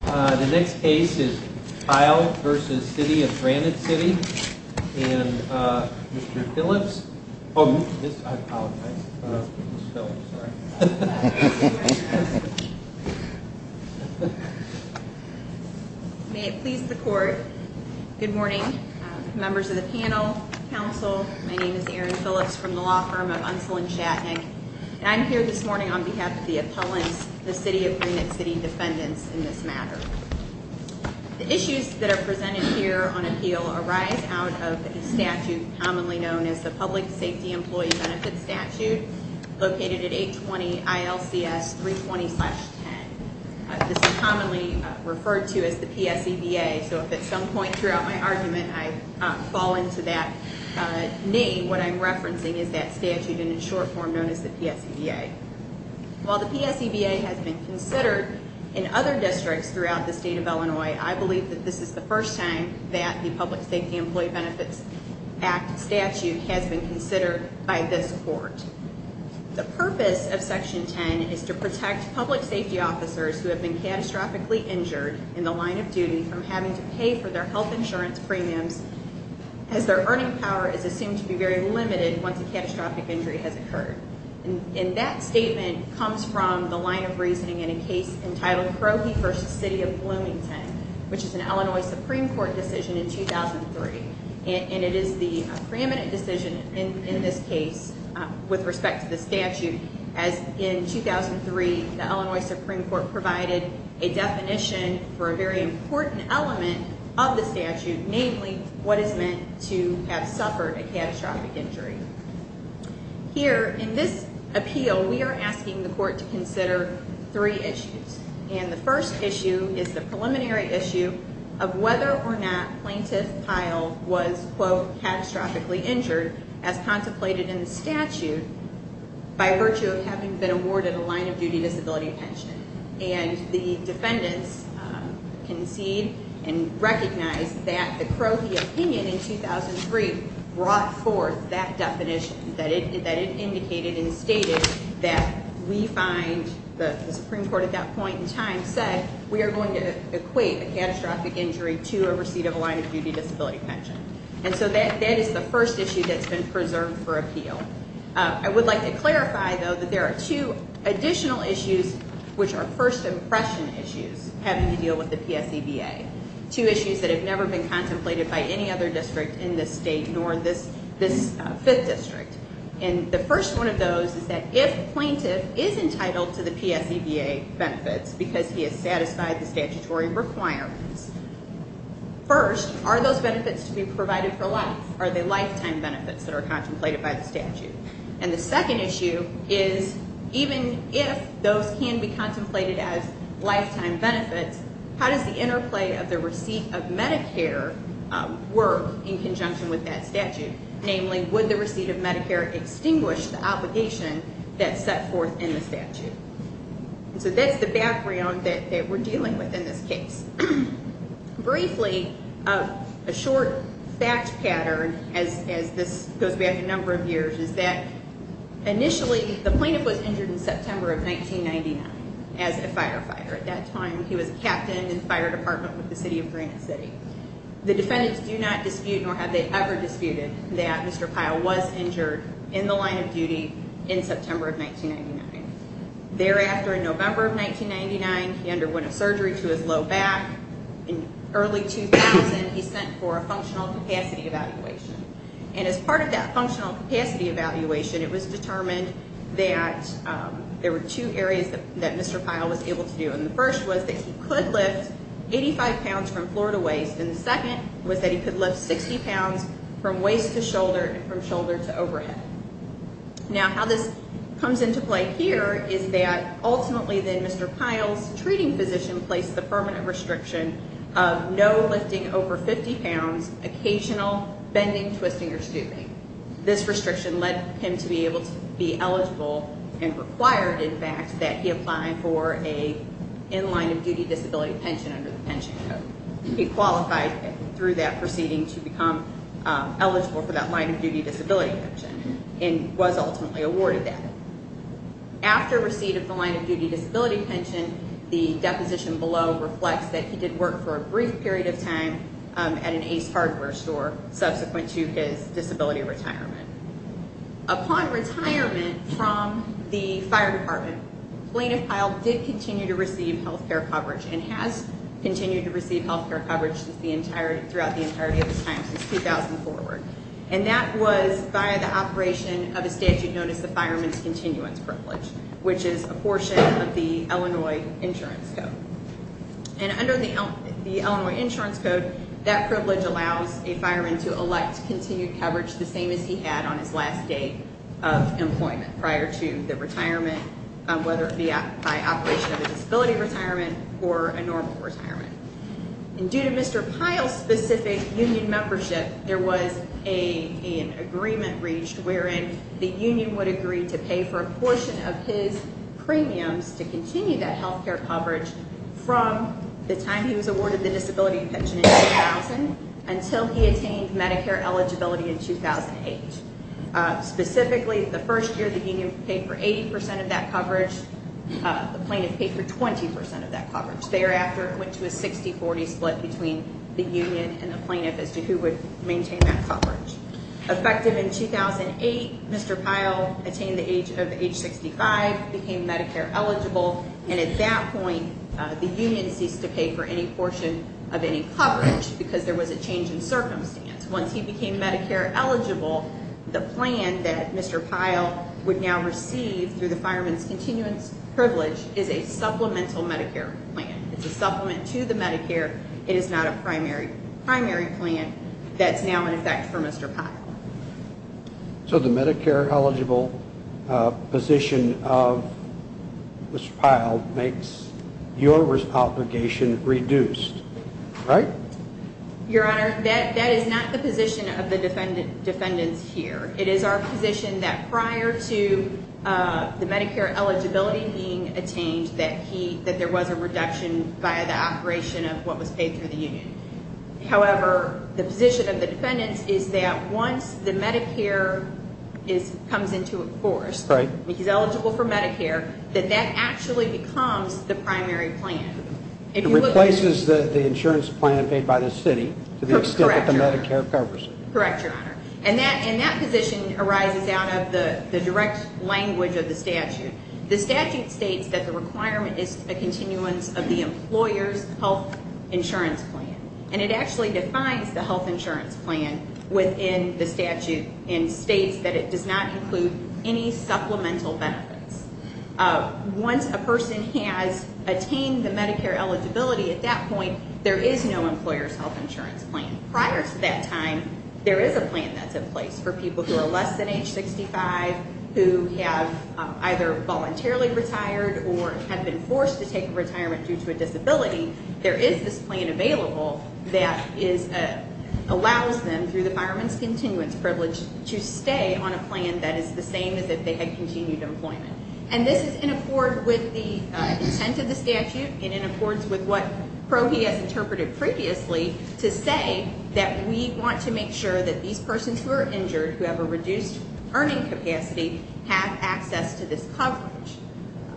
The next case is Pyle v. City of Granite City and Mr. Phillips May it please the court, good morning members of the panel, council My name is Erin Phillips from the law firm of Unseld and Shatnick and I'm here this morning on behalf of the appellants, the City of Granite City defendants in this matter The issues that are presented here on appeal arise out of a statute commonly known as the Public Safety Employee Benefit Statute located at 820 ILCS 320-10 This is commonly referred to as the PSEBA so if at some point throughout my argument I fall into that name what I'm referencing is that statute in its short form known as the PSEBA While the PSEBA has been considered in other districts throughout the state of Illinois I believe that this is the first time that the Public Safety Employee Benefits Act statute has been considered by this court The purpose of Section 10 is to protect public safety officers who have been catastrophically injured in the line of duty from having to pay for their health insurance premiums as their earning power is assumed to be very limited once a catastrophic injury has occurred and that statement comes from the line of reasoning in a case entitled Krohe v. City of Bloomington which is an Illinois Supreme Court decision in 2003 and it is the preeminent decision in this case with respect to the statute as in 2003 the Illinois Supreme Court provided a definition for a very important element of the statute namely what is meant to have suffered a catastrophic injury Here in this appeal we are asking the court to consider three issues and the first issue is the preliminary issue of whether or not plaintiff Pyle was quote catastrophically injured as contemplated in the statute by virtue of having been awarded a line of duty disability pension and the defendants concede and recognize that the Krohe opinion in 2003 brought forth that definition that it indicated and stated that we find the Supreme Court at that point in time said we are going to equate a catastrophic injury to a receipt of a line of duty disability pension and so that is the first issue that has been preserved for appeal I would like to clarify though that there are two additional issues which are first impression issues having to deal with the PSEBA two issues that have never been contemplated by any other district in this state nor this fifth district and the first one of those is that if plaintiff is entitled to the PSEBA benefits because he has satisfied the statutory requirements first are those benefits to be provided for life are they lifetime benefits that are contemplated by the statute and the second issue is even if those can be contemplated as lifetime benefits how does the interplay of the receipt of Medicare work in conjunction with that statute namely would the receipt of Medicare extinguish the obligation that is set forth in the statute so that is the background that we are dealing with in this case briefly a short fact pattern as this goes back a number of years is that initially the plaintiff was injured in September of 1999 as a firefighter at that time he was a captain in the fire department with the city of Granite City the defendants do not dispute nor have they ever disputed that Mr. Pyle was injured in the line of duty in September of 1999 thereafter in November of 1999 he underwent a surgery to his low back in early 2000 he sent for a functional capacity evaluation and as part of that functional capacity evaluation it was determined that there were two areas that Mr. Pyle was able to do and the first was that he could lift 85 pounds from floor to waist and the second was that he could lift 60 pounds from waist to shoulder and from shoulder to overhead now how this comes into play here is that ultimately then Mr. Pyle's treating physician placed the permanent restriction of no lifting over 50 pounds occasional bending twisting or scooping this restriction led him to be able to be eligible and required in fact that he apply for a in line of duty disability pension under the pension code he qualified through that proceeding to become eligible for that line of duty disability pension and was ultimately awarded that after receipt of the line of duty disability pension the deposition below reflects that he did work for a brief period of time at an Ace Hardware store subsequent to his disability retirement upon retirement from the fire department plaintiff Pyle did continue to receive health care coverage and has continued to receive health care coverage throughout the entirety of his time since 2004 and that was by the operation of a statute known as the fireman's continuance privilege which is a portion of the Illinois insurance code and under the Illinois insurance code that privilege allows a fireman to elect continued coverage the same as he had on his last day of employment prior to the retirement whether by operation of a disability retirement or a normal retirement and due to Mr. Pyle's specific union membership there was an agreement reached wherein the union would agree to pay for a portion of his premiums to continue that health care coverage from the time he was awarded the disability pension in 2000 until he attained Medicare eligibility in 2008 specifically the first year the union paid for 80% of that coverage the plaintiff paid for 20% of that coverage thereafter it went to a 60-40 split between the union and the plaintiff as to who would maintain that coverage effective in 2008 Mr. Pyle attained the age of age 65 became Medicare eligible and at that point the union ceased to pay for any portion of any coverage because there was a change in circumstance once he became Medicare eligible the plan that Mr. Pyle would now receive through the fireman's continuance privilege is a supplemental Medicare plan it's a supplement to the Medicare it is not a primary plan that's now in effect for Mr. Pyle So the Medicare eligible position of Mr. Pyle makes your obligation reduced, right? Your Honor, that is not the position of the defendants here it is our position that prior to the Medicare eligibility being attained that there was a reduction by the operation of what was paid through the union however, the position of the defendants is that once the Medicare comes into force he's eligible for Medicare that that actually becomes the primary plan It replaces the insurance plan paid by the city to the extent that the Medicare covers Correct, Your Honor and that position arises out of the direct language of the statute The statute states that the requirement is a continuance of the employer's health insurance plan and it actually defines the health insurance plan within the statute and states that it does not include any supplemental benefits Once a person has attained the Medicare eligibility at that point there is no employer's health insurance plan Prior to that time there is a plan that's in place for people who are less than age 65 who have either voluntarily retired or have been forced to take retirement due to a disability There is this plan available that allows them through the fireman's continuance privilege to stay on a plan that is the same as if they had continued employment and this is in accord with the intent of the statute and in accordance with what Prohi has interpreted previously to say that we want to make sure that these persons who are injured who have a reduced earning capacity have access to this coverage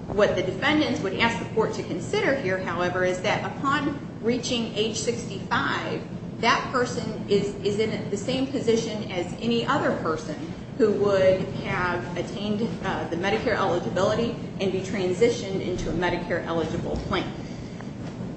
What the defendants would ask the court to consider here however is that upon reaching age 65 that person is in the same position as any other person who would have attained the Medicare eligibility and be transitioned into a Medicare eligible plan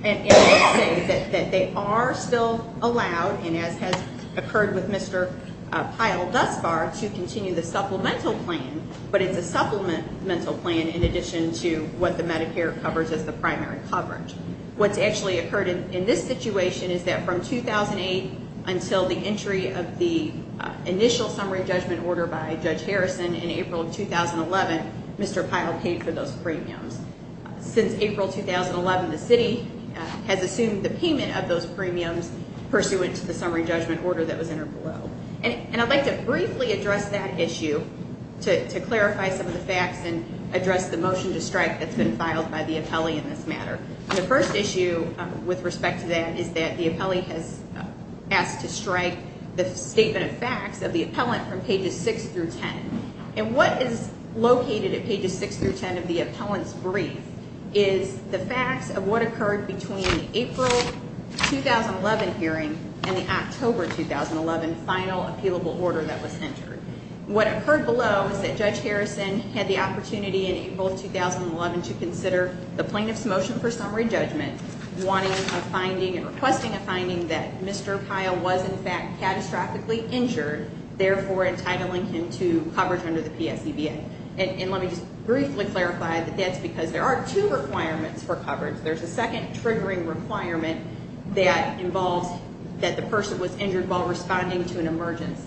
and they say that they are still allowed and as has occurred with Mr. Pyle thus far to continue the supplemental plan but it's a supplemental plan in addition to what the Medicare covers as the primary coverage What's actually occurred in this situation is that from 2008 until the entry of the initial summary judgment order by Judge Harrison in April of 2011, Mr. Pyle paid for those premiums Since April 2011, the city has assumed the payment of those premiums pursuant to the summary judgment order that was entered below and I'd like to briefly address that issue to clarify some of the facts and address the motion to strike that's been filed by the appellee in this matter The first issue with respect to that is that the appellee has asked to strike the statement of facts of the appellant from pages 6 through 10 and what is located at pages 6 through 10 of the appellant's brief is the facts of what occurred between the April 2011 hearing and the October 2011 final appealable order that was entered What occurred below is that Judge Harrison had the opportunity in April 2011 to consider the plaintiff's motion for summary judgment wanting a finding and requesting a finding that Mr. Pyle was in fact catastrophically injured, therefore entitling him to coverage under the PSEBA and let me just briefly clarify that that's because there are two requirements for coverage There's a second triggering requirement that involves that the person was injured while responding to an emergency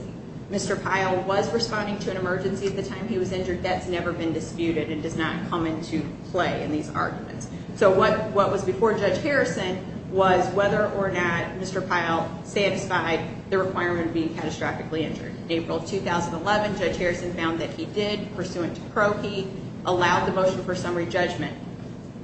Mr. Pyle was responding to an emergency at the time he was injured That's never been disputed and does not come into play in these arguments So what was before Judge Harrison was whether or not Mr. Pyle satisfied the requirement of being catastrophically injured In April 2011, Judge Harrison found that he did, pursuant to pro key allowed the motion for summary judgment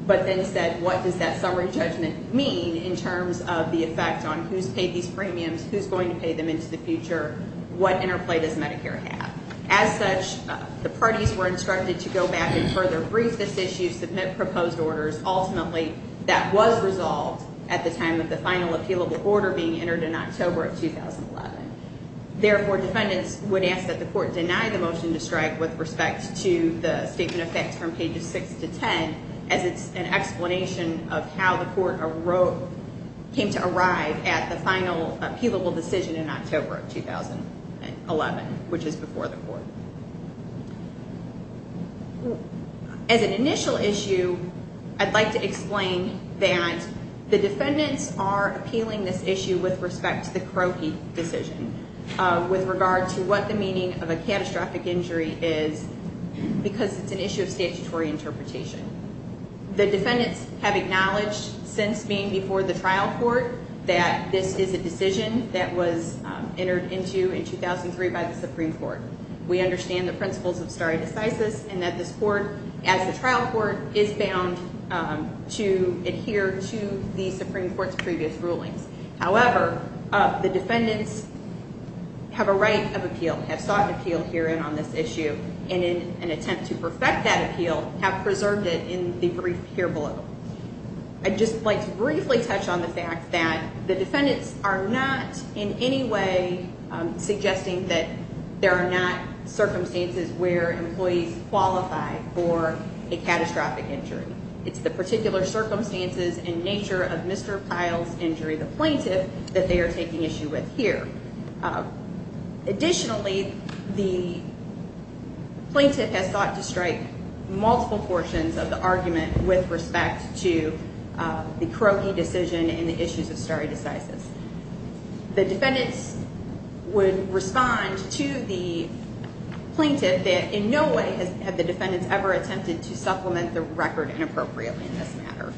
but then said what does that summary judgment mean in terms of the effect on who's paid these premiums, who's going to pay them into the future what interplay does Medicare have As such, the parties were instructed to go back and further brief this issue and to submit proposed orders ultimately that was resolved at the time of the final appealable order being entered in October of 2011 Therefore, defendants would ask that the court deny the motion to strike with respect to the statement of facts from pages 6 to 10 as it's an explanation of how the court came to arrive at the final appealable decision in October of 2011, which is before the court As an initial issue, I'd like to explain that the defendants are appealing this issue with respect to the croaky decision with regard to what the meaning of a catastrophic injury is because it's an issue of statutory interpretation The defendants have acknowledged since being before the trial court that this is a decision that was entered into in 2003 by the Supreme Court We understand the principles of stare decisis and that this court, as the trial court, is bound to adhere to the Supreme Court's previous rulings However, the defendants have a right of appeal have sought an appeal herein on this issue and in an attempt to perfect that appeal, have preserved it in the brief here below I'd just like to briefly touch on the fact that the defendants are not in any way suggesting that there are not circumstances where employees qualify for a catastrophic injury It's the particular circumstances and nature of Mr. Pyle's injury, the plaintiff that they are taking issue with here Additionally, the plaintiff has sought to strike multiple portions of the argument with respect to the croaky decision and the issues of stare decisis The defendants would respond to the plaintiff that in no way have the defendants ever attempted to supplement the record inappropriately in this matter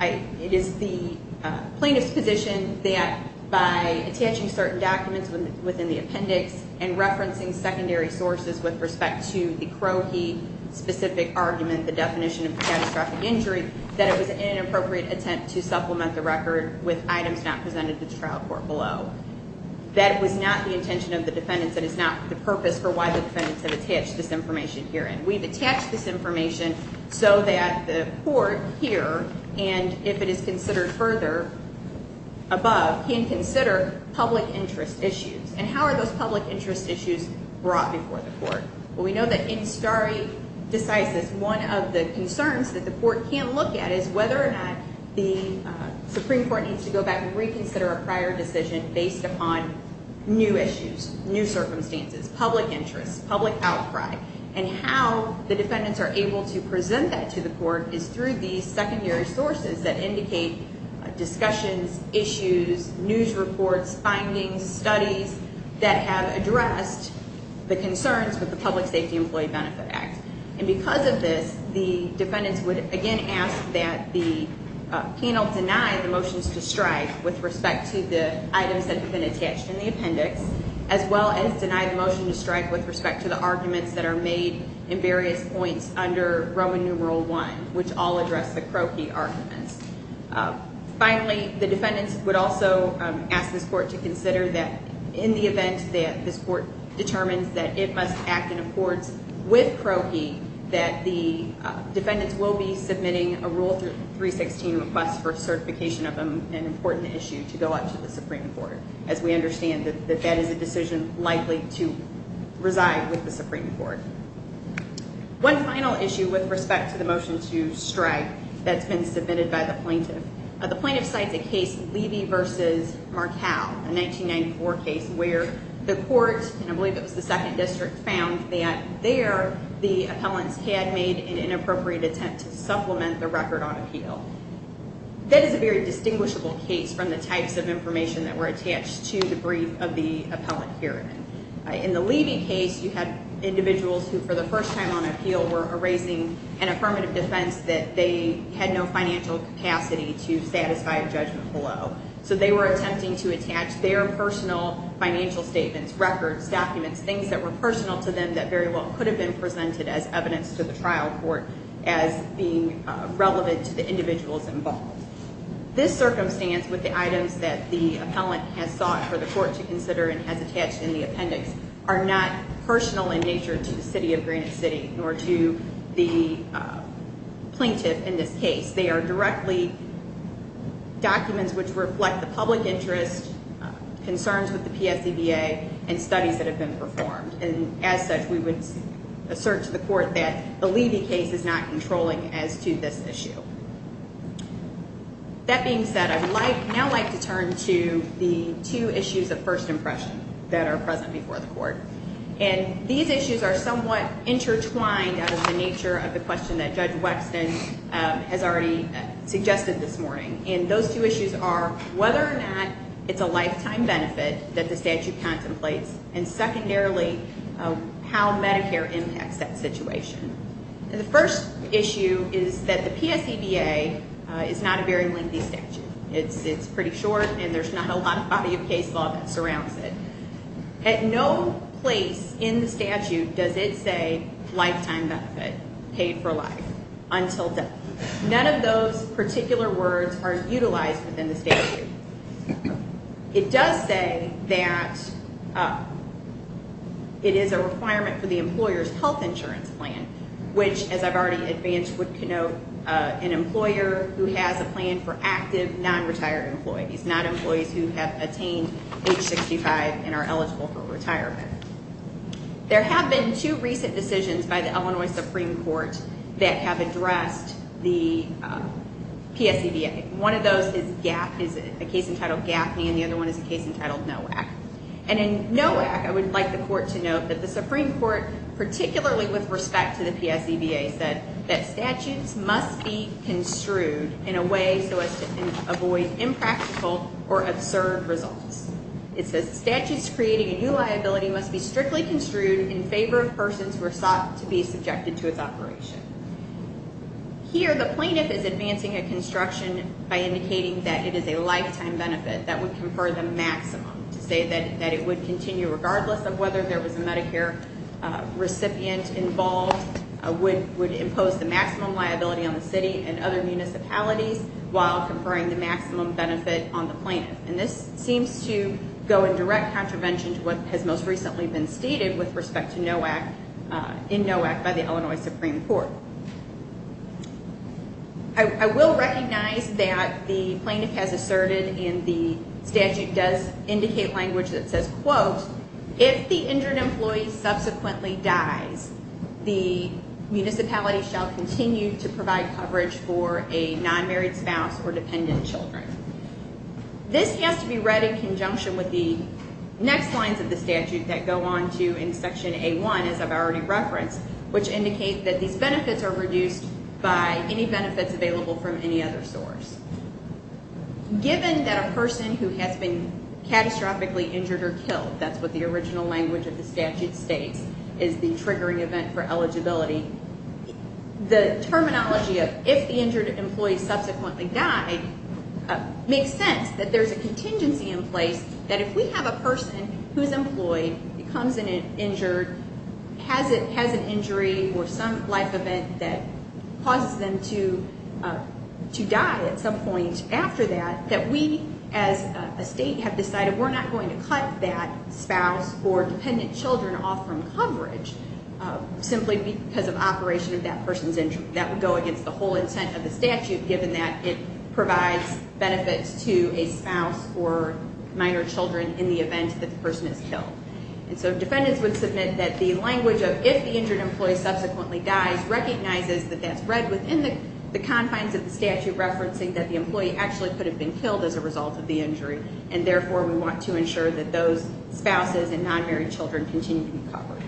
It is the plaintiff's position that by attaching certain documents within the appendix and referencing secondary sources with respect to the croaky specific argument the definition of a catastrophic injury that it was an inappropriate attempt to supplement the record with items not presented to the trial court below That was not the intention of the defendants That is not the purpose for why the defendants have attached this information herein We've attached this information so that the court here and if it is considered further above, can consider public interest issues We know that in stare decisis, one of the concerns that the court can't look at is whether or not the Supreme Court needs to go back and reconsider a prior decision based upon new issues, new circumstances, public interest, public outcry and how the defendants are able to present that to the court is through these secondary sources that indicate discussions, issues, news reports findings, studies that have addressed the concerns with the Public Safety Employee Benefit Act And because of this, the defendants would again ask that the penal deny the motions to strike with respect to the items that have been attached in the appendix as well as deny the motion to strike with respect to the arguments that are made in various points under Roman numeral I, which all address the croaky arguments Finally, the defendants would also ask this court to consider that in the event that this court determines that it must act in accords with croaky that the defendants will be submitting a rule 316 request for certification of an important issue to go out to the Supreme Court as we understand that that is a decision likely to reside with the Supreme Court One final issue with respect to the motion to strike that's been submitted by the plaintiff The plaintiff cites a case, Levy v. Markell, a 1994 case where the court, and I believe it was the 2nd District, found that there the appellants had made an inappropriate attempt to supplement the record on appeal That is a very distinguishable case from the types of information that were attached to the brief of the appellant hearing In the Levy case, you had individuals who, for the first time on appeal were raising an affirmative defense that they had no financial capacity to satisfy a judgment below So they were attempting to attach their personal financial statements, records, documents things that were personal to them that very well could have been presented as evidence to the trial court as being relevant to the individuals involved This circumstance, with the items that the appellant has sought for the court to consider and has attached in the appendix, are not personal in nature to the City of Greenwich City nor to the plaintiff in this case They are directly documents which reflect the public interest, concerns with the PSCBA and studies that have been performed And as such, we would assert to the court that the Levy case is not controlling as to this issue That being said, I would now like to turn to the two issues of first impression that are present before the court And these issues are somewhat intertwined out of the nature of the question that Judge Wexton has already suggested this morning And those two issues are whether or not it's a lifetime benefit that the statute contemplates and secondarily, how Medicare impacts that situation The first issue is that the PSCBA is not a very lengthy statute It's pretty short and there's not a lot of body of case law that surrounds it At no place in the statute does it say, lifetime benefit, paid for life, until death None of those particular words are utilized within the statute It does say that it is a requirement for the employer's health insurance plan which, as I've already advanced, would connote an employer who has a plan for active, non-retired employees not employees who have attained age 65 and are eligible for retirement There have been two recent decisions by the Illinois Supreme Court that have addressed the PSCBA One of those is a case entitled Gaffney and the other one is a case entitled Nowak And in Nowak, I would like the court to note that the Supreme Court, particularly with respect to the PSCBA said that statutes must be construed in a way so as to avoid impractical or absurd results It says, statutes creating a new liability must be strictly construed in favor of persons who are sought to be subjected to its operation Here, the plaintiff is advancing a construction by indicating that it is a lifetime benefit that would confer the maximum, to say that it would continue regardless of whether there was a Medicare recipient involved would impose the maximum liability on the city and other municipalities while conferring the maximum benefit on the plaintiff And this seems to go in direct contravention to what has most recently been stated with respect to Nowak in Nowak by the Illinois Supreme Court I will recognize that the plaintiff has asserted in the statute does indicate language that says quote, if the injured employee subsequently dies, the municipality shall continue to provide coverage for a non-married spouse or dependent children This has to be read in conjunction with the next lines of the statute that go on to in section A1 as I've already referenced which indicate that these benefits are reduced by any benefits available from any other source Given that a person who has been catastrophically injured or killed, that's what the original language of the statute states is the triggering event for eligibility The terminology of if the injured employee subsequently died makes sense that there's a contingency in place that if we have a person who's employed, becomes injured, has an injury or some life event that causes them to die at some point after that that we as a state have decided we're not going to cut that spouse or dependent children off from coverage simply because of operation of that person's injury That would go against the whole intent of the statute given that it provides benefits to a spouse or minor children in the event that the person is killed And so defendants would submit that the language of if the injured employee subsequently dies recognizes that that's read within the confines of the statute referencing that the employee actually could have been killed as a result of the injury and therefore we want to ensure that those spouses and non-married children continue to be covered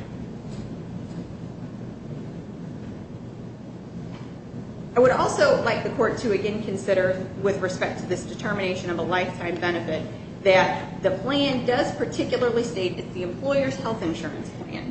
I would also like the court to again consider with respect to this determination of a lifetime benefit that the plan does particularly state that the employer's health insurance plan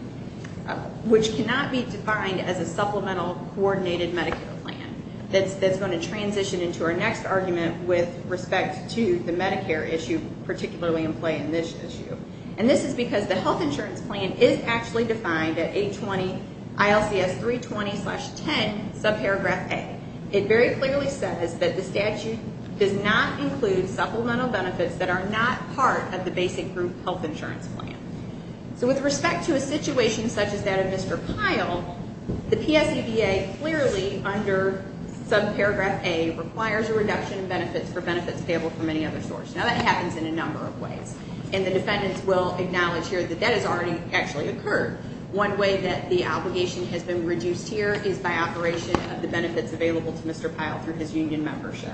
which cannot be defined as a supplemental coordinated Medicare plan that's going to transition into our next argument with respect to the Medicare issue particularly in play in this issue And this is because the health insurance plan is actually defined at 820 ILCS 320-10 subparagraph A It very clearly says that the statute does not include supplemental benefits that are not part of the basic group health insurance plan So with respect to a situation such as that of Mr. Pyle, the PSEDA clearly under subparagraph A requires a reduction in benefits for benefits payable from any other source Now that happens in a number of ways and the defendants will acknowledge here that that has already actually occurred One way that the obligation has been reduced here is by operation of the benefits available to Mr. Pyle through his union membership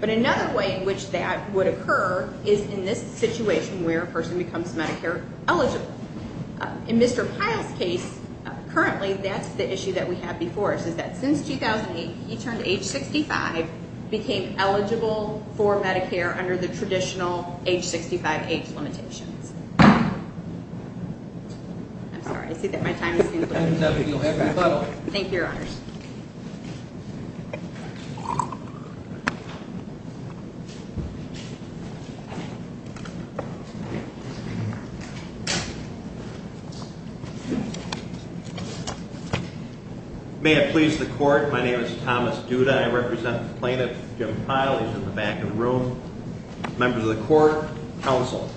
But another way in which that would occur is in this situation where a person becomes Medicare eligible In Mr. Pyle's case, currently that's the issue that we have before us is that since 2008 he turned age 65 became eligible for Medicare under the traditional age 65 age limitations I'm sorry, I see that my time is up. Thank you, your honors. May it please the court, my name is Thomas Duda, I represent the plaintiff Jim Pyle, he's in the back of the room Members of the court, counsel,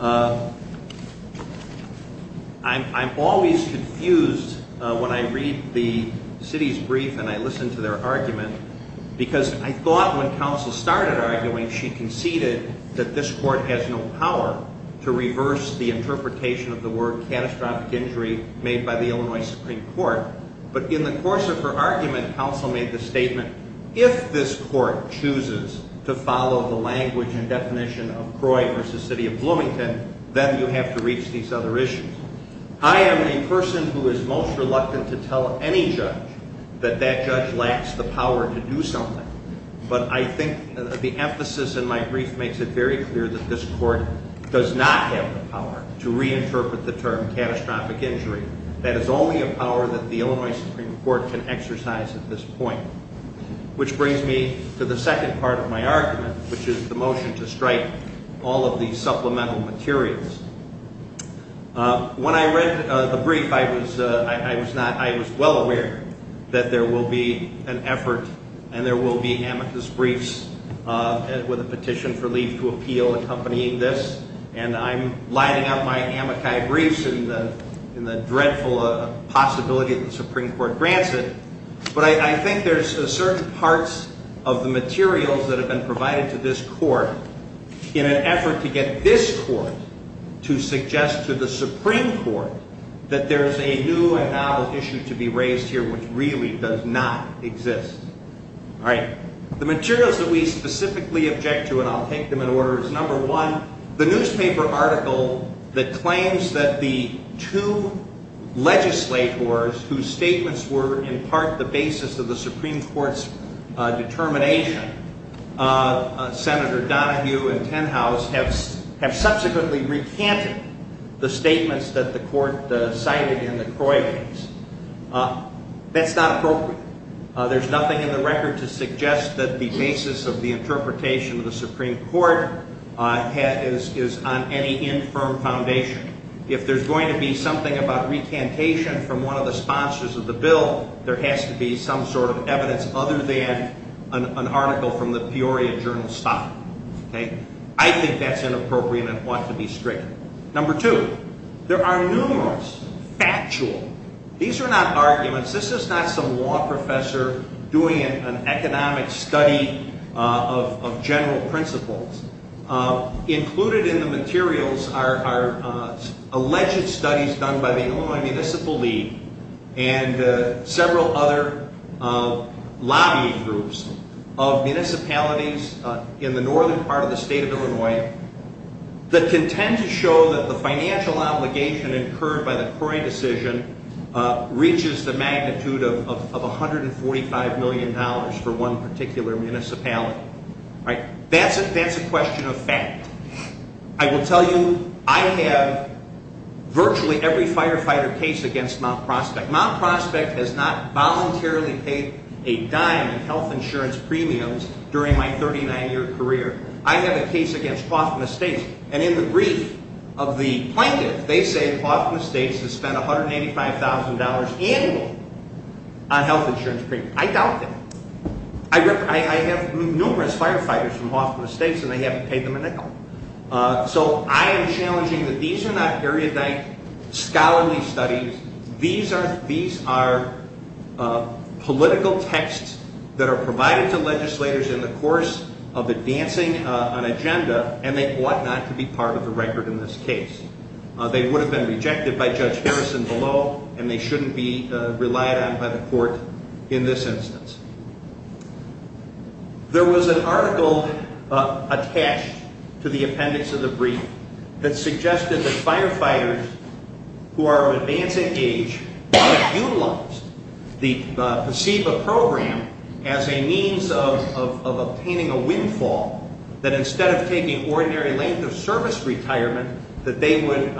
I'm always confused when I read the city's brief and I listen to their argument because I thought when counsel started arguing she conceded that this court has no power to reverse the interpretation of the word catastrophic injury made by the Illinois Supreme Court But in the course of her argument, counsel made the statement, if this court chooses to follow the language and definition of Croy v. City of Bloomington, then you have to reach these other issues I am a person who is most reluctant to tell any judge that that judge lacks the power to do something But I think the emphasis in my brief makes it very clear that this court does not have the power to reinterpret the term catastrophic injury That is only a power that the Illinois Supreme Court can exercise at this point Which brings me to the second part of my argument, which is the motion to strike all of these supplemental materials When I read the brief, I was well aware that there will be an effort and there will be amicus briefs with a petition for leave to appeal accompanying this, and I'm lining up my amicus briefs in the dreadful possibility that the Supreme Court grants it But I think there's certain parts of the materials that have been provided to this court in an effort to get this court to suggest to the Supreme Court that there's a new and valid issue to be raised here which really does not exist The materials that we specifically object to, and I'll take them in order, is number one The newspaper article that claims that the two legislators whose statements were in part the basis of the Supreme Court's determination Senator Donohue and Tenhouse, have subsequently recanted the statements that the court cited in the Croy case That's not appropriate. There's nothing in the record to suggest that the basis of the interpretation of the Supreme Court is on any infirm foundation If there's going to be something about recantation from one of the sponsors of the bill, there has to be some sort of evidence other than an article from the Peoria Journal Stock I think that's inappropriate and ought to be stricter Number two, there are numerous factual, these are not arguments, this is not some law professor doing an economic study of general principles Included in the materials are alleged studies done by the Illinois Municipal League and several other lobbying groups of municipalities in the northern part of the state of Illinois That contend to show that the financial obligation incurred by the Croy decision reaches the magnitude of $145 million for one particular municipality That's a question of fact. I will tell you, I have virtually every firefighter case against Mount Prospect Mount Prospect has not voluntarily paid a dime in health insurance premiums during my 39 year career I have a case against Hawthorne Estates and in the brief of the plaintiff they say Hawthorne Estates has spent $185,000 annual on health insurance premiums I doubt that. I have numerous firefighters from Hawthorne Estates and they haven't paid them a nickel So I am challenging that these are not erudite scholarly studies These are political texts that are provided to legislators in the course of advancing an agenda and they ought not to be part of the record in this case They would have been rejected by Judge Harrison below and they shouldn't be relied on by the court in this instance There was an article attached to the appendix of the brief that suggested that firefighters who are of advancing age Utilized the PSEBA program as a means of obtaining a windfall that instead of taking ordinary length of service retirement That they would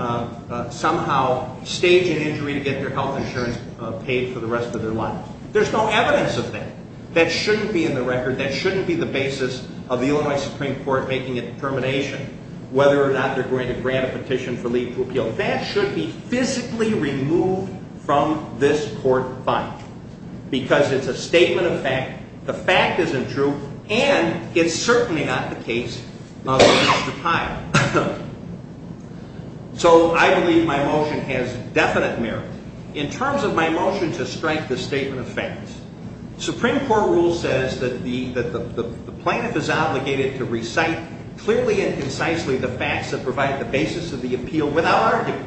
somehow stage an injury to get their health insurance paid for the rest of their lives There's no evidence of that. That shouldn't be in the record. That shouldn't be the basis of the Illinois Supreme Court making a determination Whether or not they're going to grant a petition for leave to appeal. That should be physically removed from this court file Because it's a statement of fact. The fact isn't true and it's certainly not the case of his retirement So I believe my motion has definite merit. In terms of my motion to strike the statement of facts Supreme Court rule says that the plaintiff is obligated to recite clearly and concisely the facts that provide the basis of the appeal without argument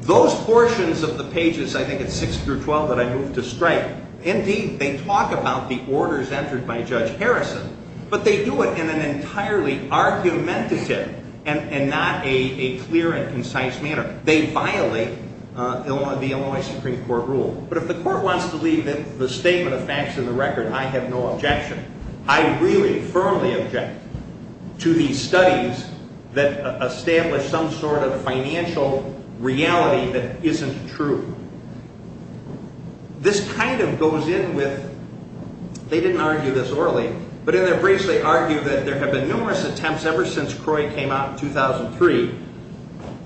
Those portions of the pages, I think it's six through twelve that I move to strike Indeed, they talk about the orders entered by Judge Harrison, but they do it in an entirely argumentative and not a clear and concise manner They violate the Illinois Supreme Court rule. But if the court wants to leave the statement of facts in the record, I have no objection I really firmly object to these studies that establish some sort of financial reality that isn't true This kind of goes in with, they didn't argue this orally, but in their briefs they argue that there have been numerous attempts ever since CROI came out in 2003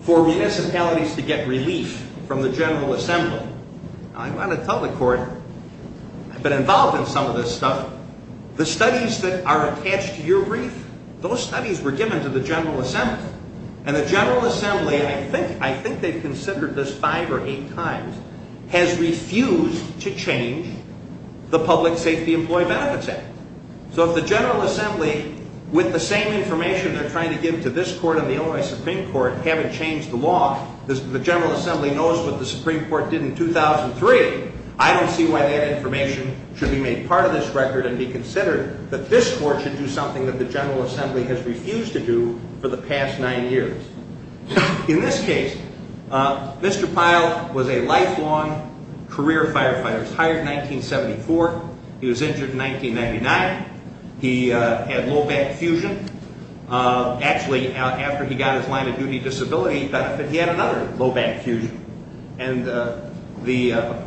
For municipalities to get relief from the General Assembly I want to tell the court, I've been involved in some of this stuff, the studies that are attached to your brief, those studies were given to the General Assembly And the General Assembly, I think they've considered this five or eight times, has refused to change the Public Safety Employee Benefits Act So if the General Assembly, with the same information they're trying to give to this court and the Illinois Supreme Court, haven't changed the law The General Assembly knows what the Supreme Court did in 2003 I don't see why that information should be made part of this record and be considered that this court should do something that the General Assembly has refused to do for the past nine years In this case, Mr. Pyle was a lifelong career firefighter. He was hired in 1974, he was injured in 1999, he had low back fusion Actually, after he got his line of duty disability benefit, he had another low back fusion And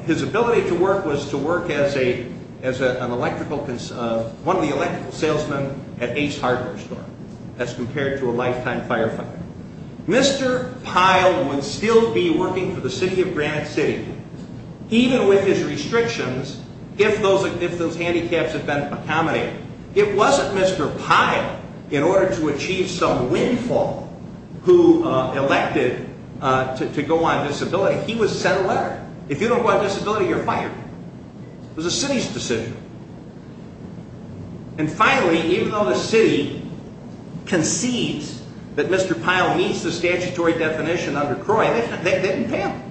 his ability to work was to work as one of the electrical salesmen at Ace Hardware Store, as compared to a lifetime firefighter Mr. Pyle would still be working for the City of Granite City, even with his restrictions, if those handicaps had been accommodated It wasn't Mr. Pyle, in order to achieve some windfall, who elected to go on disability He was sent a letter, if you don't go on disability, you're fired. It was the city's decision And finally, even though the city concedes that Mr. Pyle meets the statutory definition under CROI, they didn't pay him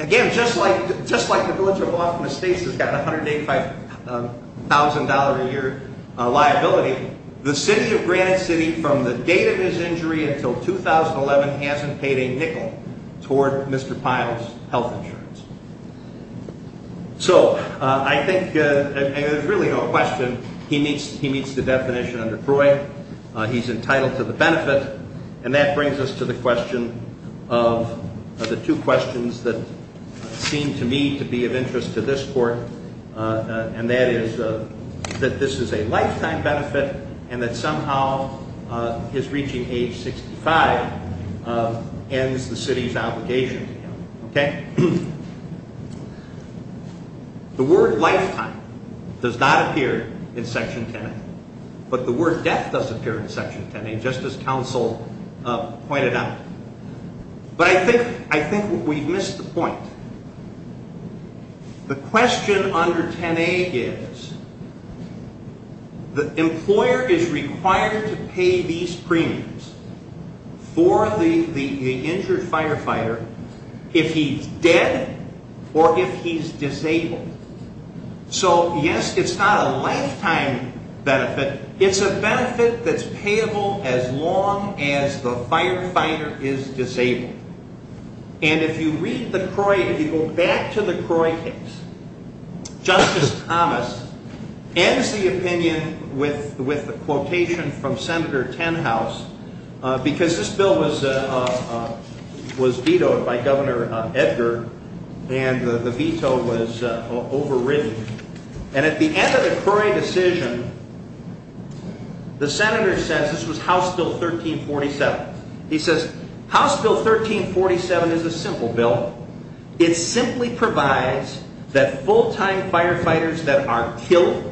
Again, just like the Village of Baltimore State has a $185,000 a year liability, the City of Granite City, from the date of his injury until 2011, hasn't paid a nickel toward Mr. Pyle's health insurance So, I think there's really no question, he meets the definition under CROI, he's entitled to the benefit And that brings us to the question of, the two questions that seem to me to be of interest to this court And that is, that this is a lifetime benefit, and that somehow his reaching age 65 ends the city's obligation to him But I think we've missed the point. The question under 10A is, the employer is required to pay these premiums for the injured firefighter, if he's dead or if he's disabled So, yes, it's not a lifetime benefit, it's a benefit that's payable as long as the firefighter is disabled And if you read the CROI, if you go back to the CROI case, Justice Thomas ends the opinion with the quotation from Senator Tenhouse Because this bill was vetoed by Governor Edgar, and the veto was overridden And at the end of the CROI decision, the Senator says, this was House Bill 1347 He says, House Bill 1347 is a simple bill, it simply provides that full-time firefighters that are killed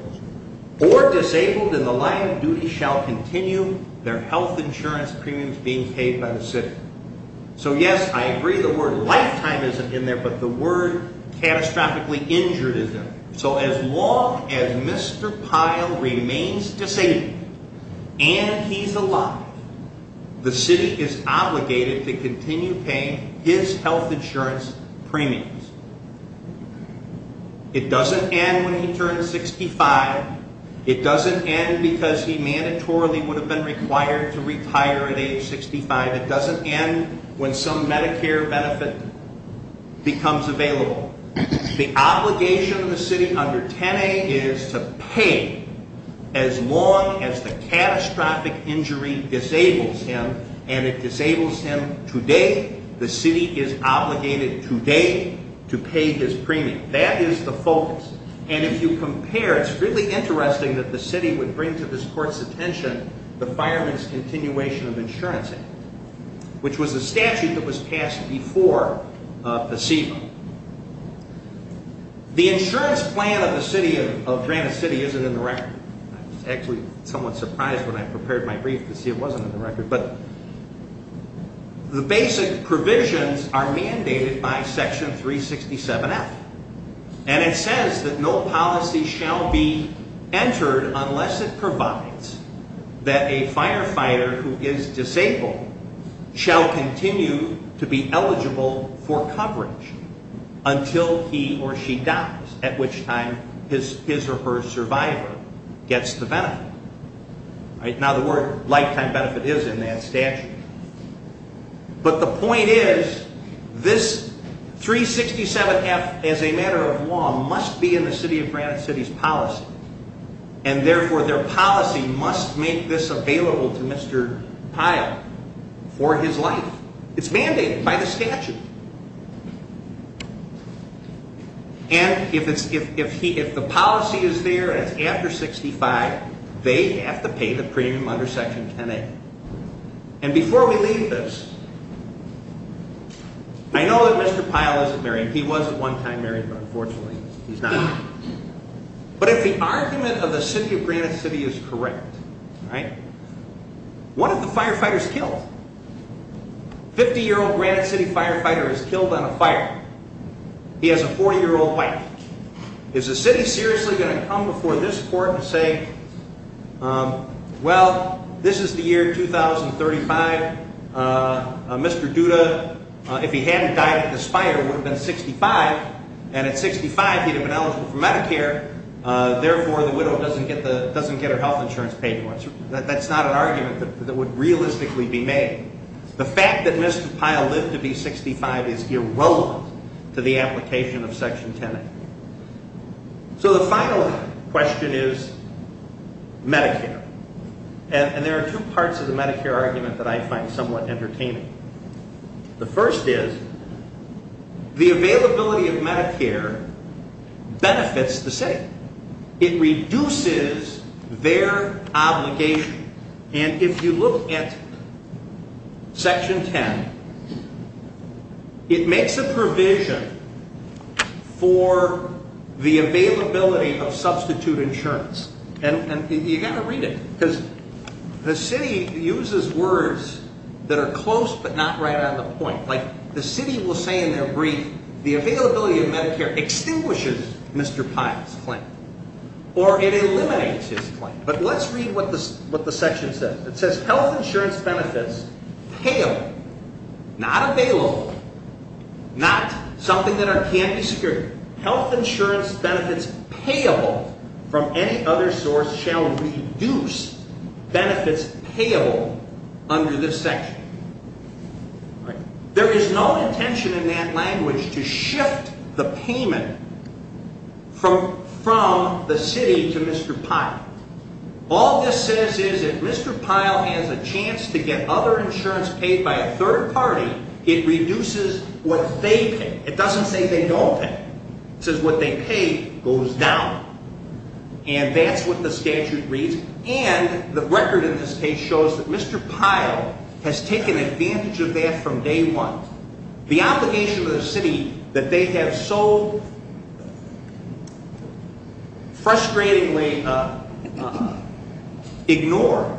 or disabled in the line of duty Shall continue their health insurance premiums being paid by the city So yes, I agree the word lifetime isn't in there, but the word catastrophically injured isn't So as long as Mr. Pyle remains disabled, and he's alive, the city is obligated to continue paying his health insurance premiums It doesn't end when he turns 65, it doesn't end because he mandatorily would have been required to retire at age 65 It doesn't end when some Medicare benefit becomes available The obligation of the city under 10A is to pay as long as the catastrophic injury disables him And it disables him today, the city is obligated today to pay his premiums That is the focus, and if you compare, it's really interesting that the city would bring to this court's attention The Fireman's Continuation of Insurance Act, which was a statute that was passed before the CEBA The insurance plan of the city, of Granite City, isn't in the record I was actually somewhat surprised when I prepared my brief to see it wasn't in the record But the basic provisions are mandated by Section 367F And it says that no policy shall be entered unless it provides that a firefighter who is disabled shall continue to be eligible for coverage until he or she dies, at which time his or her survivor gets the benefit Now the word lifetime benefit is in that statute But the point is, this 367F, as a matter of law, must be in the city of Granite City's policy And therefore their policy must make this available to Mr. Pyle for his life It's mandated by the statute And if the policy is there after 65, they have to pay the premium under Section 10A And before we leave this, I know that Mr. Pyle isn't married, he was at one time married, but unfortunately he's not But if the argument of the city of Granite City is correct, one of the firefighters killed A 50-year-old Granite City firefighter is killed on a fire He has a 40-year-old wife Is the city seriously going to come before this court and say, well, this is the year 2035 Mr. Duda, if he hadn't died at this fire, would have been 65 And at 65 he would have been eligible for Medicare Therefore the widow doesn't get her health insurance paid for That's not an argument that would realistically be made The fact that Mr. Pyle lived to be 65 is irrelevant to the application of Section 10A So the final question is Medicare And there are two parts of the Medicare argument that I find somewhat entertaining The first is, the availability of Medicare benefits the city It reduces their obligation And if you look at Section 10, it makes a provision for the availability of substitute insurance And you've got to read it, because the city uses words that are close but not right on the point Like the city will say in their brief, the availability of Medicare extinguishes Mr. Pyle's claim Or it eliminates his claim But let's read what the section says It says health insurance benefits payable, not available, not something that can't be secured Health insurance benefits payable from any other source shall reduce benefits payable under this section There is no intention in that language to shift the payment from the city to Mr. Pyle All this says is if Mr. Pyle has a chance to get other insurance paid by a third party It reduces what they pay It doesn't say they don't pay It says what they pay goes down And that's what the statute reads And the record in this case shows that Mr. Pyle has taken advantage of that from day one The obligation to the city that they have so frustratingly ignored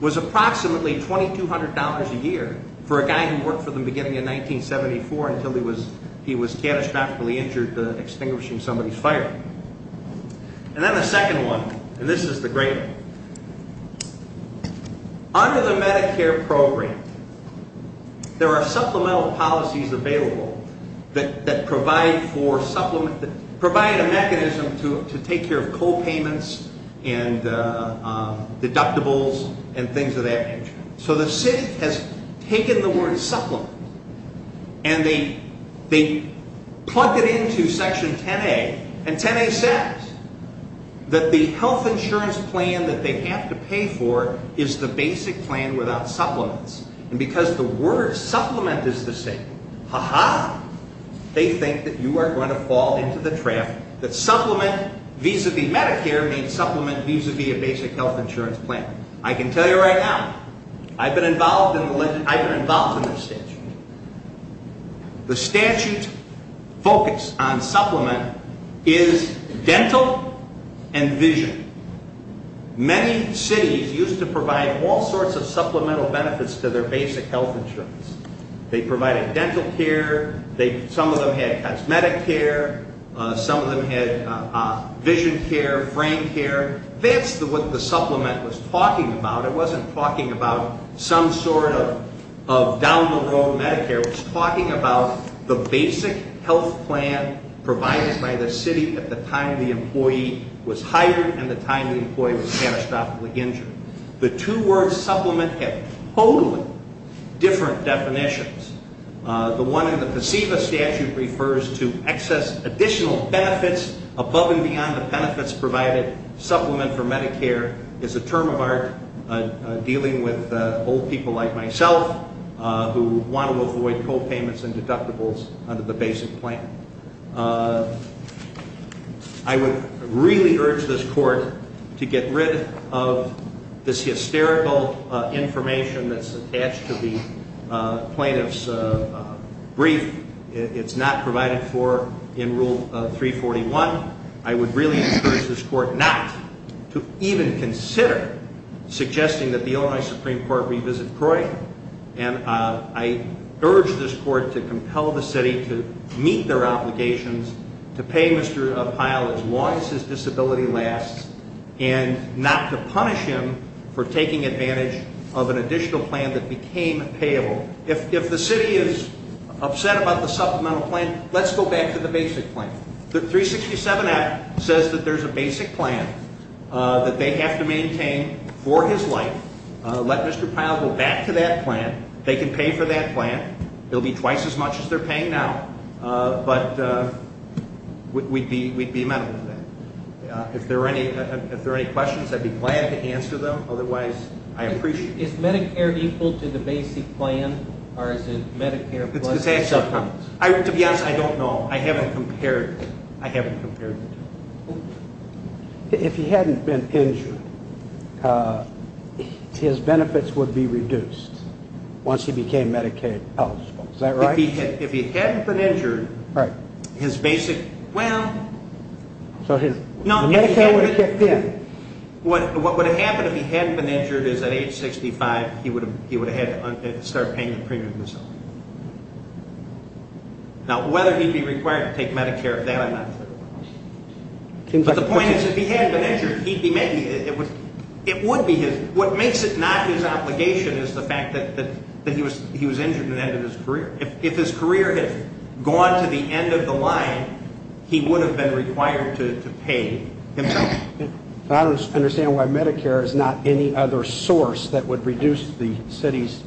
Was approximately $2,200 a year for a guy who worked for them beginning in 1974 Until he was catastrophically injured extinguishing somebody's fire And then the second one, and this is the great one Under the Medicare program, there are supplemental policies available That provide a mechanism to take care of co-payments and deductibles and things of that nature So the city has taken the word supplement And they plugged it into section 10A And 10A says that the health insurance plan that they have to pay for is the basic plan without supplements And because the word supplement is the same Ha ha! They think that you are going to fall into the trap That supplement vis-a-vis Medicare means supplement vis-a-vis a basic health insurance plan I can tell you right now I've been involved in this statute The statute's focus on supplement is dental and vision Many cities used to provide all sorts of supplemental benefits to their basic health insurance They provided dental care Some of them had cosmetic care Some of them had vision care, brain care That's what the supplement was talking about It wasn't talking about some sort of down the road Medicare It was talking about the basic health plan provided by the city at the time the employee was hired And the time the employee was catastrophically injured The two words supplement have totally different definitions The one in the PSEVA statute refers to excess additional benefits Above and beyond the benefits provided Supplement for Medicare is a term of art Dealing with old people like myself Who want to avoid co-payments and deductibles under the basic plan I would really urge this court to get rid of this hysterical information that's attached to the plaintiff's brief It's not provided for in Rule 341 I would really urge this court not to even consider suggesting that the Illinois Supreme Court revisit CROI And I urge this court to compel the city to meet their obligations To pay Mr. Pyle as long as his disability lasts And not to punish him for taking advantage of an additional plan that became payable If the city is upset about the supplemental plan, let's go back to the basic plan The 367 Act says that there's a basic plan that they have to maintain for his life Let Mr. Pyle go back to that plan They can pay for that plan It'll be twice as much as they're paying now But we'd be amenable to that If there are any questions, I'd be glad to answer them Otherwise, I appreciate it Is Medicare equal to the basic plan or is it Medicare plus the supplement? To be honest, I don't know I haven't compared it I haven't compared it If he hadn't been injured, his benefits would be reduced once he became Medicaid eligible Is that right? If he hadn't been injured, his basic... Well... So Medicare would have kicked in What would have happened if he hadn't been injured is at age 65 He would have had to start paying the premiums Now, whether he'd be required to take Medicare, I'm not sure But the point is, if he hadn't been injured, it would be his... What makes it not his obligation is the fact that he was injured at the end of his career If his career had gone to the end of the line, he would have been required to pay himself I don't understand why Medicare is not any other source that would reduce the city's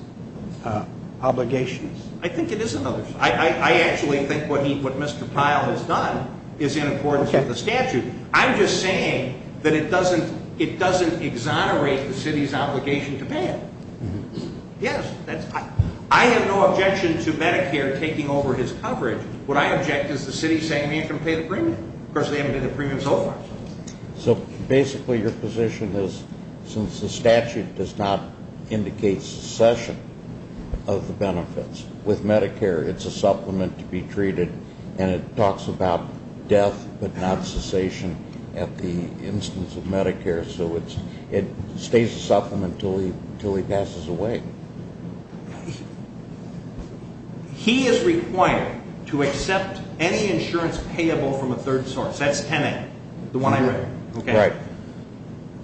obligations I think it is another source I actually think what Mr. Pyle has done is in accordance with the statute I'm just saying that it doesn't exonerate the city's obligation to pay it Yes, that's... I have no objection to Medicare taking over his coverage Of course, they haven't done a premium so far So basically your position is, since the statute does not indicate cessation of the benefits With Medicare, it's a supplement to be treated And it talks about death but not cessation at the instance of Medicare So it stays a supplement until he passes away He is required to accept any insurance payable from a third source That's Tenet, the one I read Right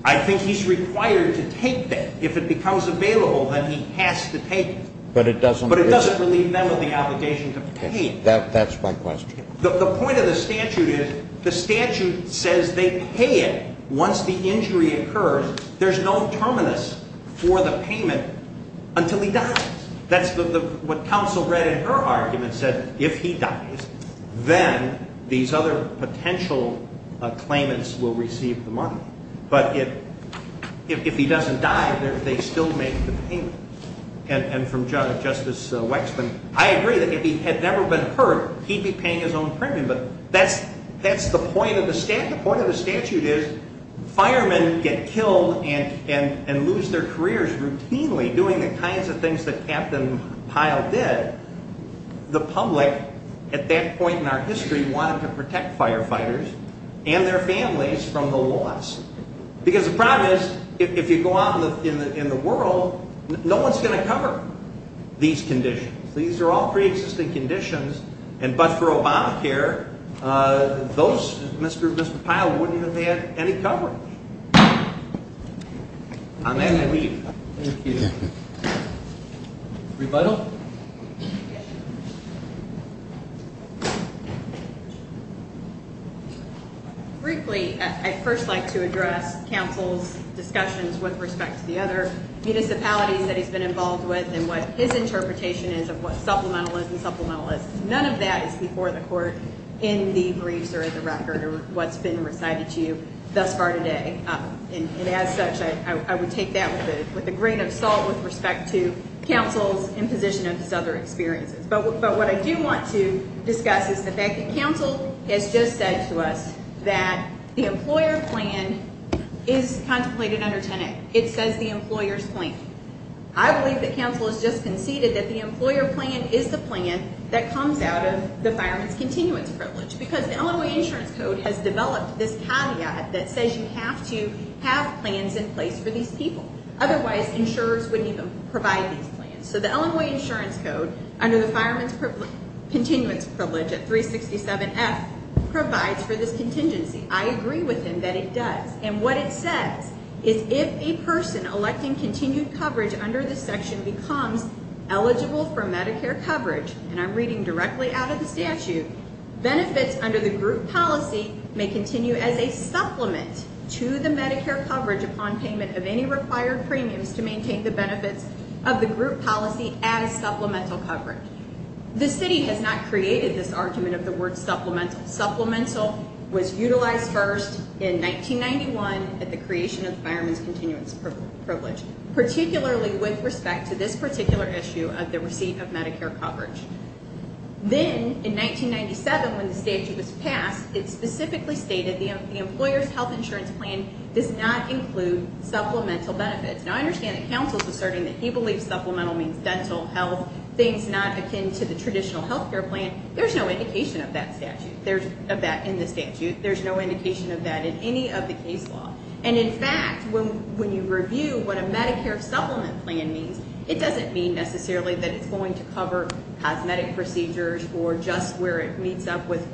I think he's required to take that If it becomes available, then he has to take it But it doesn't relieve them of the obligation to pay it That's my question The point of the statute is, the statute says they pay it once the injury occurs There's no terminus for the payment until he dies That's what counsel read in her argument Said if he dies, then these other potential claimants will receive the money But if he doesn't die, they still make the payment And from Justice Wexman, I agree that if he had never been hurt, he'd be paying his own premium But that's the point of the statute The point of the statute is, firemen get killed and lose their careers routinely Doing the kinds of things that Captain Pyle did The public, at that point in our history, wanted to protect firefighters and their families from the loss Because the problem is, if you go out in the world, no one's going to cover these conditions These are all pre-existing conditions But for Obamacare, Mr. Pyle wouldn't even have had any coverage Briefly, I'd first like to address counsel's discussions with respect to the other municipalities that he's been involved with And what his interpretation is of what supplemental is and supplemental is None of that is before the court in the briefs or in the record or what's been recited to you thus far today And as such, I would take that with a grain of salt with respect to counsel's imposition of his other experiences But what I do want to discuss is the fact that counsel has just said to us that the employer plan is contemplated under 10A It says the employer's plan I believe that counsel has just conceded that the employer plan is the plan that comes out of the Fireman's Continuance Privilege Because the Illinois Insurance Code has developed this caveat that says you have to have plans in place for these people Otherwise, insurers wouldn't even provide these plans So the Illinois Insurance Code, under the Fireman's Continuance Privilege at 367F, provides for this contingency I agree with him that it does And what it says is if a person electing continued coverage under this section becomes eligible for Medicare coverage And I'm reading directly out of the statute Benefits under the group policy may continue as a supplement to the Medicare coverage upon payment of any required premiums To maintain the benefits of the group policy as supplemental coverage The city has not created this argument of the word supplemental Supplemental was utilized first in 1991 at the creation of the Fireman's Continuance Privilege Particularly with respect to this particular issue of the receipt of Medicare coverage Then in 1997 when the statute was passed, it specifically stated the employer's health insurance plan does not include supplemental benefits Now I understand that counsel is asserting that he believes supplemental means dental health Things not akin to the traditional health care plan There's no indication of that in the statute There's no indication of that in any of the case law And in fact, when you review what a Medicare supplement plan means It doesn't mean necessarily that it's going to cover cosmetic procedures or just where it meets up with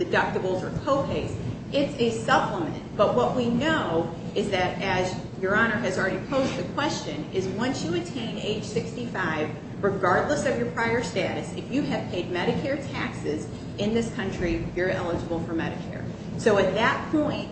deductibles or co-pays It's a supplement But what we know is that as Your Honor has already posed the question Is once you attain age 65, regardless of your prior status If you have paid Medicare taxes in this country, you're eligible for Medicare So at that point,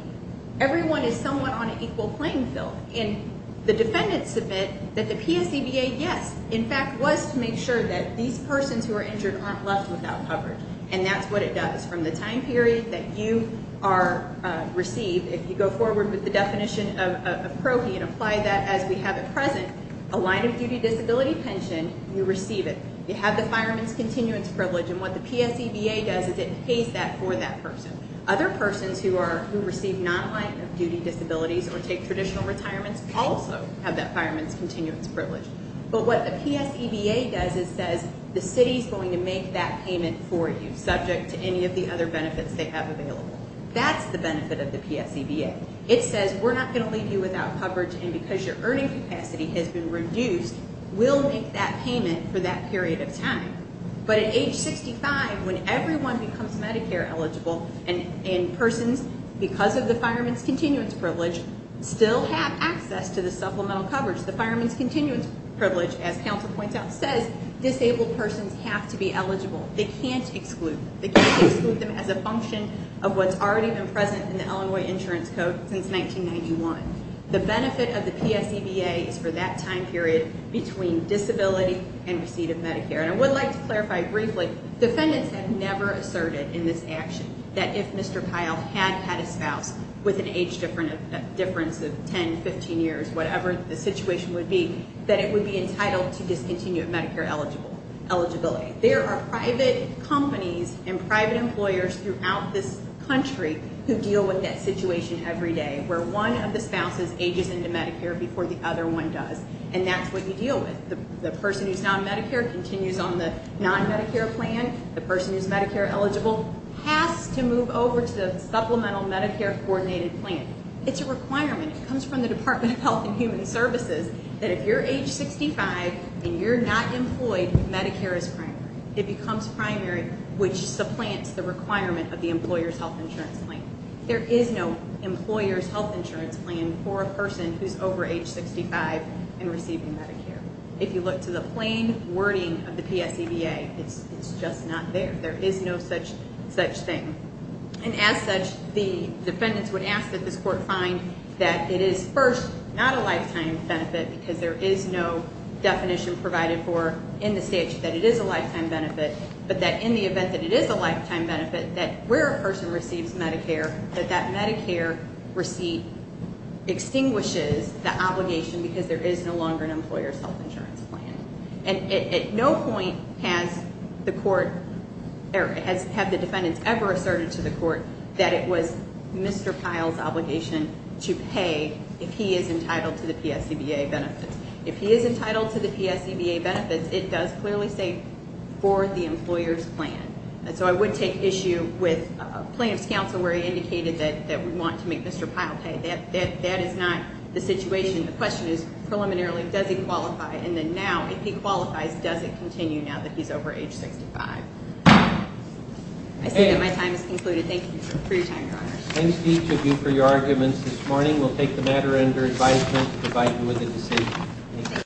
everyone is somewhat on an equal playing field And the defendants admit that the PSCBA, yes, in fact, was to make sure that these persons who are injured aren't left without coverage And that's what it does From the time period that you are received If you go forward with the definition of PROHE and apply that as we have at present A line of duty disability pension, you receive it You have the fireman's continuance privilege And what the PSCBA does is it pays that for that person Other persons who receive non-line of duty disabilities or take traditional retirements Also have that fireman's continuance privilege But what the PSCBA does is says the city is going to make that payment for you Subject to any of the other benefits they have available That's the benefit of the PSCBA It says we're not going to leave you without coverage And because your earning capacity has been reduced, we'll make that payment for that period of time But at age 65, when everyone becomes Medicare eligible And persons, because of the fireman's continuance privilege, still have access to the supplemental coverage The fireman's continuance privilege, as counsel points out, says disabled persons have to be eligible They can't exclude them They can't exclude them as a function of what's already been present in the Illinois Insurance Code since 1991 The benefit of the PSCBA is for that time period between disability and receipt of Medicare And I would like to clarify briefly, defendants have never asserted in this action That if Mr. Kyle had had a spouse with an age difference of 10, 15 years Whatever the situation would be, that it would be entitled to discontinued Medicare eligibility There are private companies and private employers throughout this country who deal with that situation every day Where one of the spouses ages into Medicare before the other one does And that's what you deal with The person who's non-Medicare continues on the non-Medicare plan The person who's Medicare eligible has to move over to the supplemental Medicare coordinated plan It's a requirement It comes from the Department of Health and Human Services That if you're age 65 and you're not employed, Medicare is primary It becomes primary which supplants the requirement of the employer's health insurance plan There is no employer's health insurance plan for a person who's over age 65 and receiving Medicare If you look to the plain wording of the PSCBA, it's just not there There is no such thing And as such, the defendants would ask that this court find that it is first not a lifetime benefit Because there is no definition provided for in the statute that it is a lifetime benefit But that in the event that it is a lifetime benefit, that where a person receives Medicare That that Medicare receipt extinguishes the obligation because there is no longer an employer's health insurance plan And at no point has the court or have the defendants ever asserted to the court that it was Mr. Pyle's obligation to pay If he is entitled to the PSCBA benefits If he is entitled to the PSCBA benefits, it does clearly say for the employer's plan And so I would take issue with plaintiff's counsel where he indicated that we want to make Mr. Pyle pay That is not the situation The question is, preliminarily, does he qualify? And then now, if he qualifies, does it continue now that he is over age 65? I see that my time has concluded. Thank you for your time, Your Honor Thank each of you for your arguments this morning We will take the matter under advisement to provide you with a decision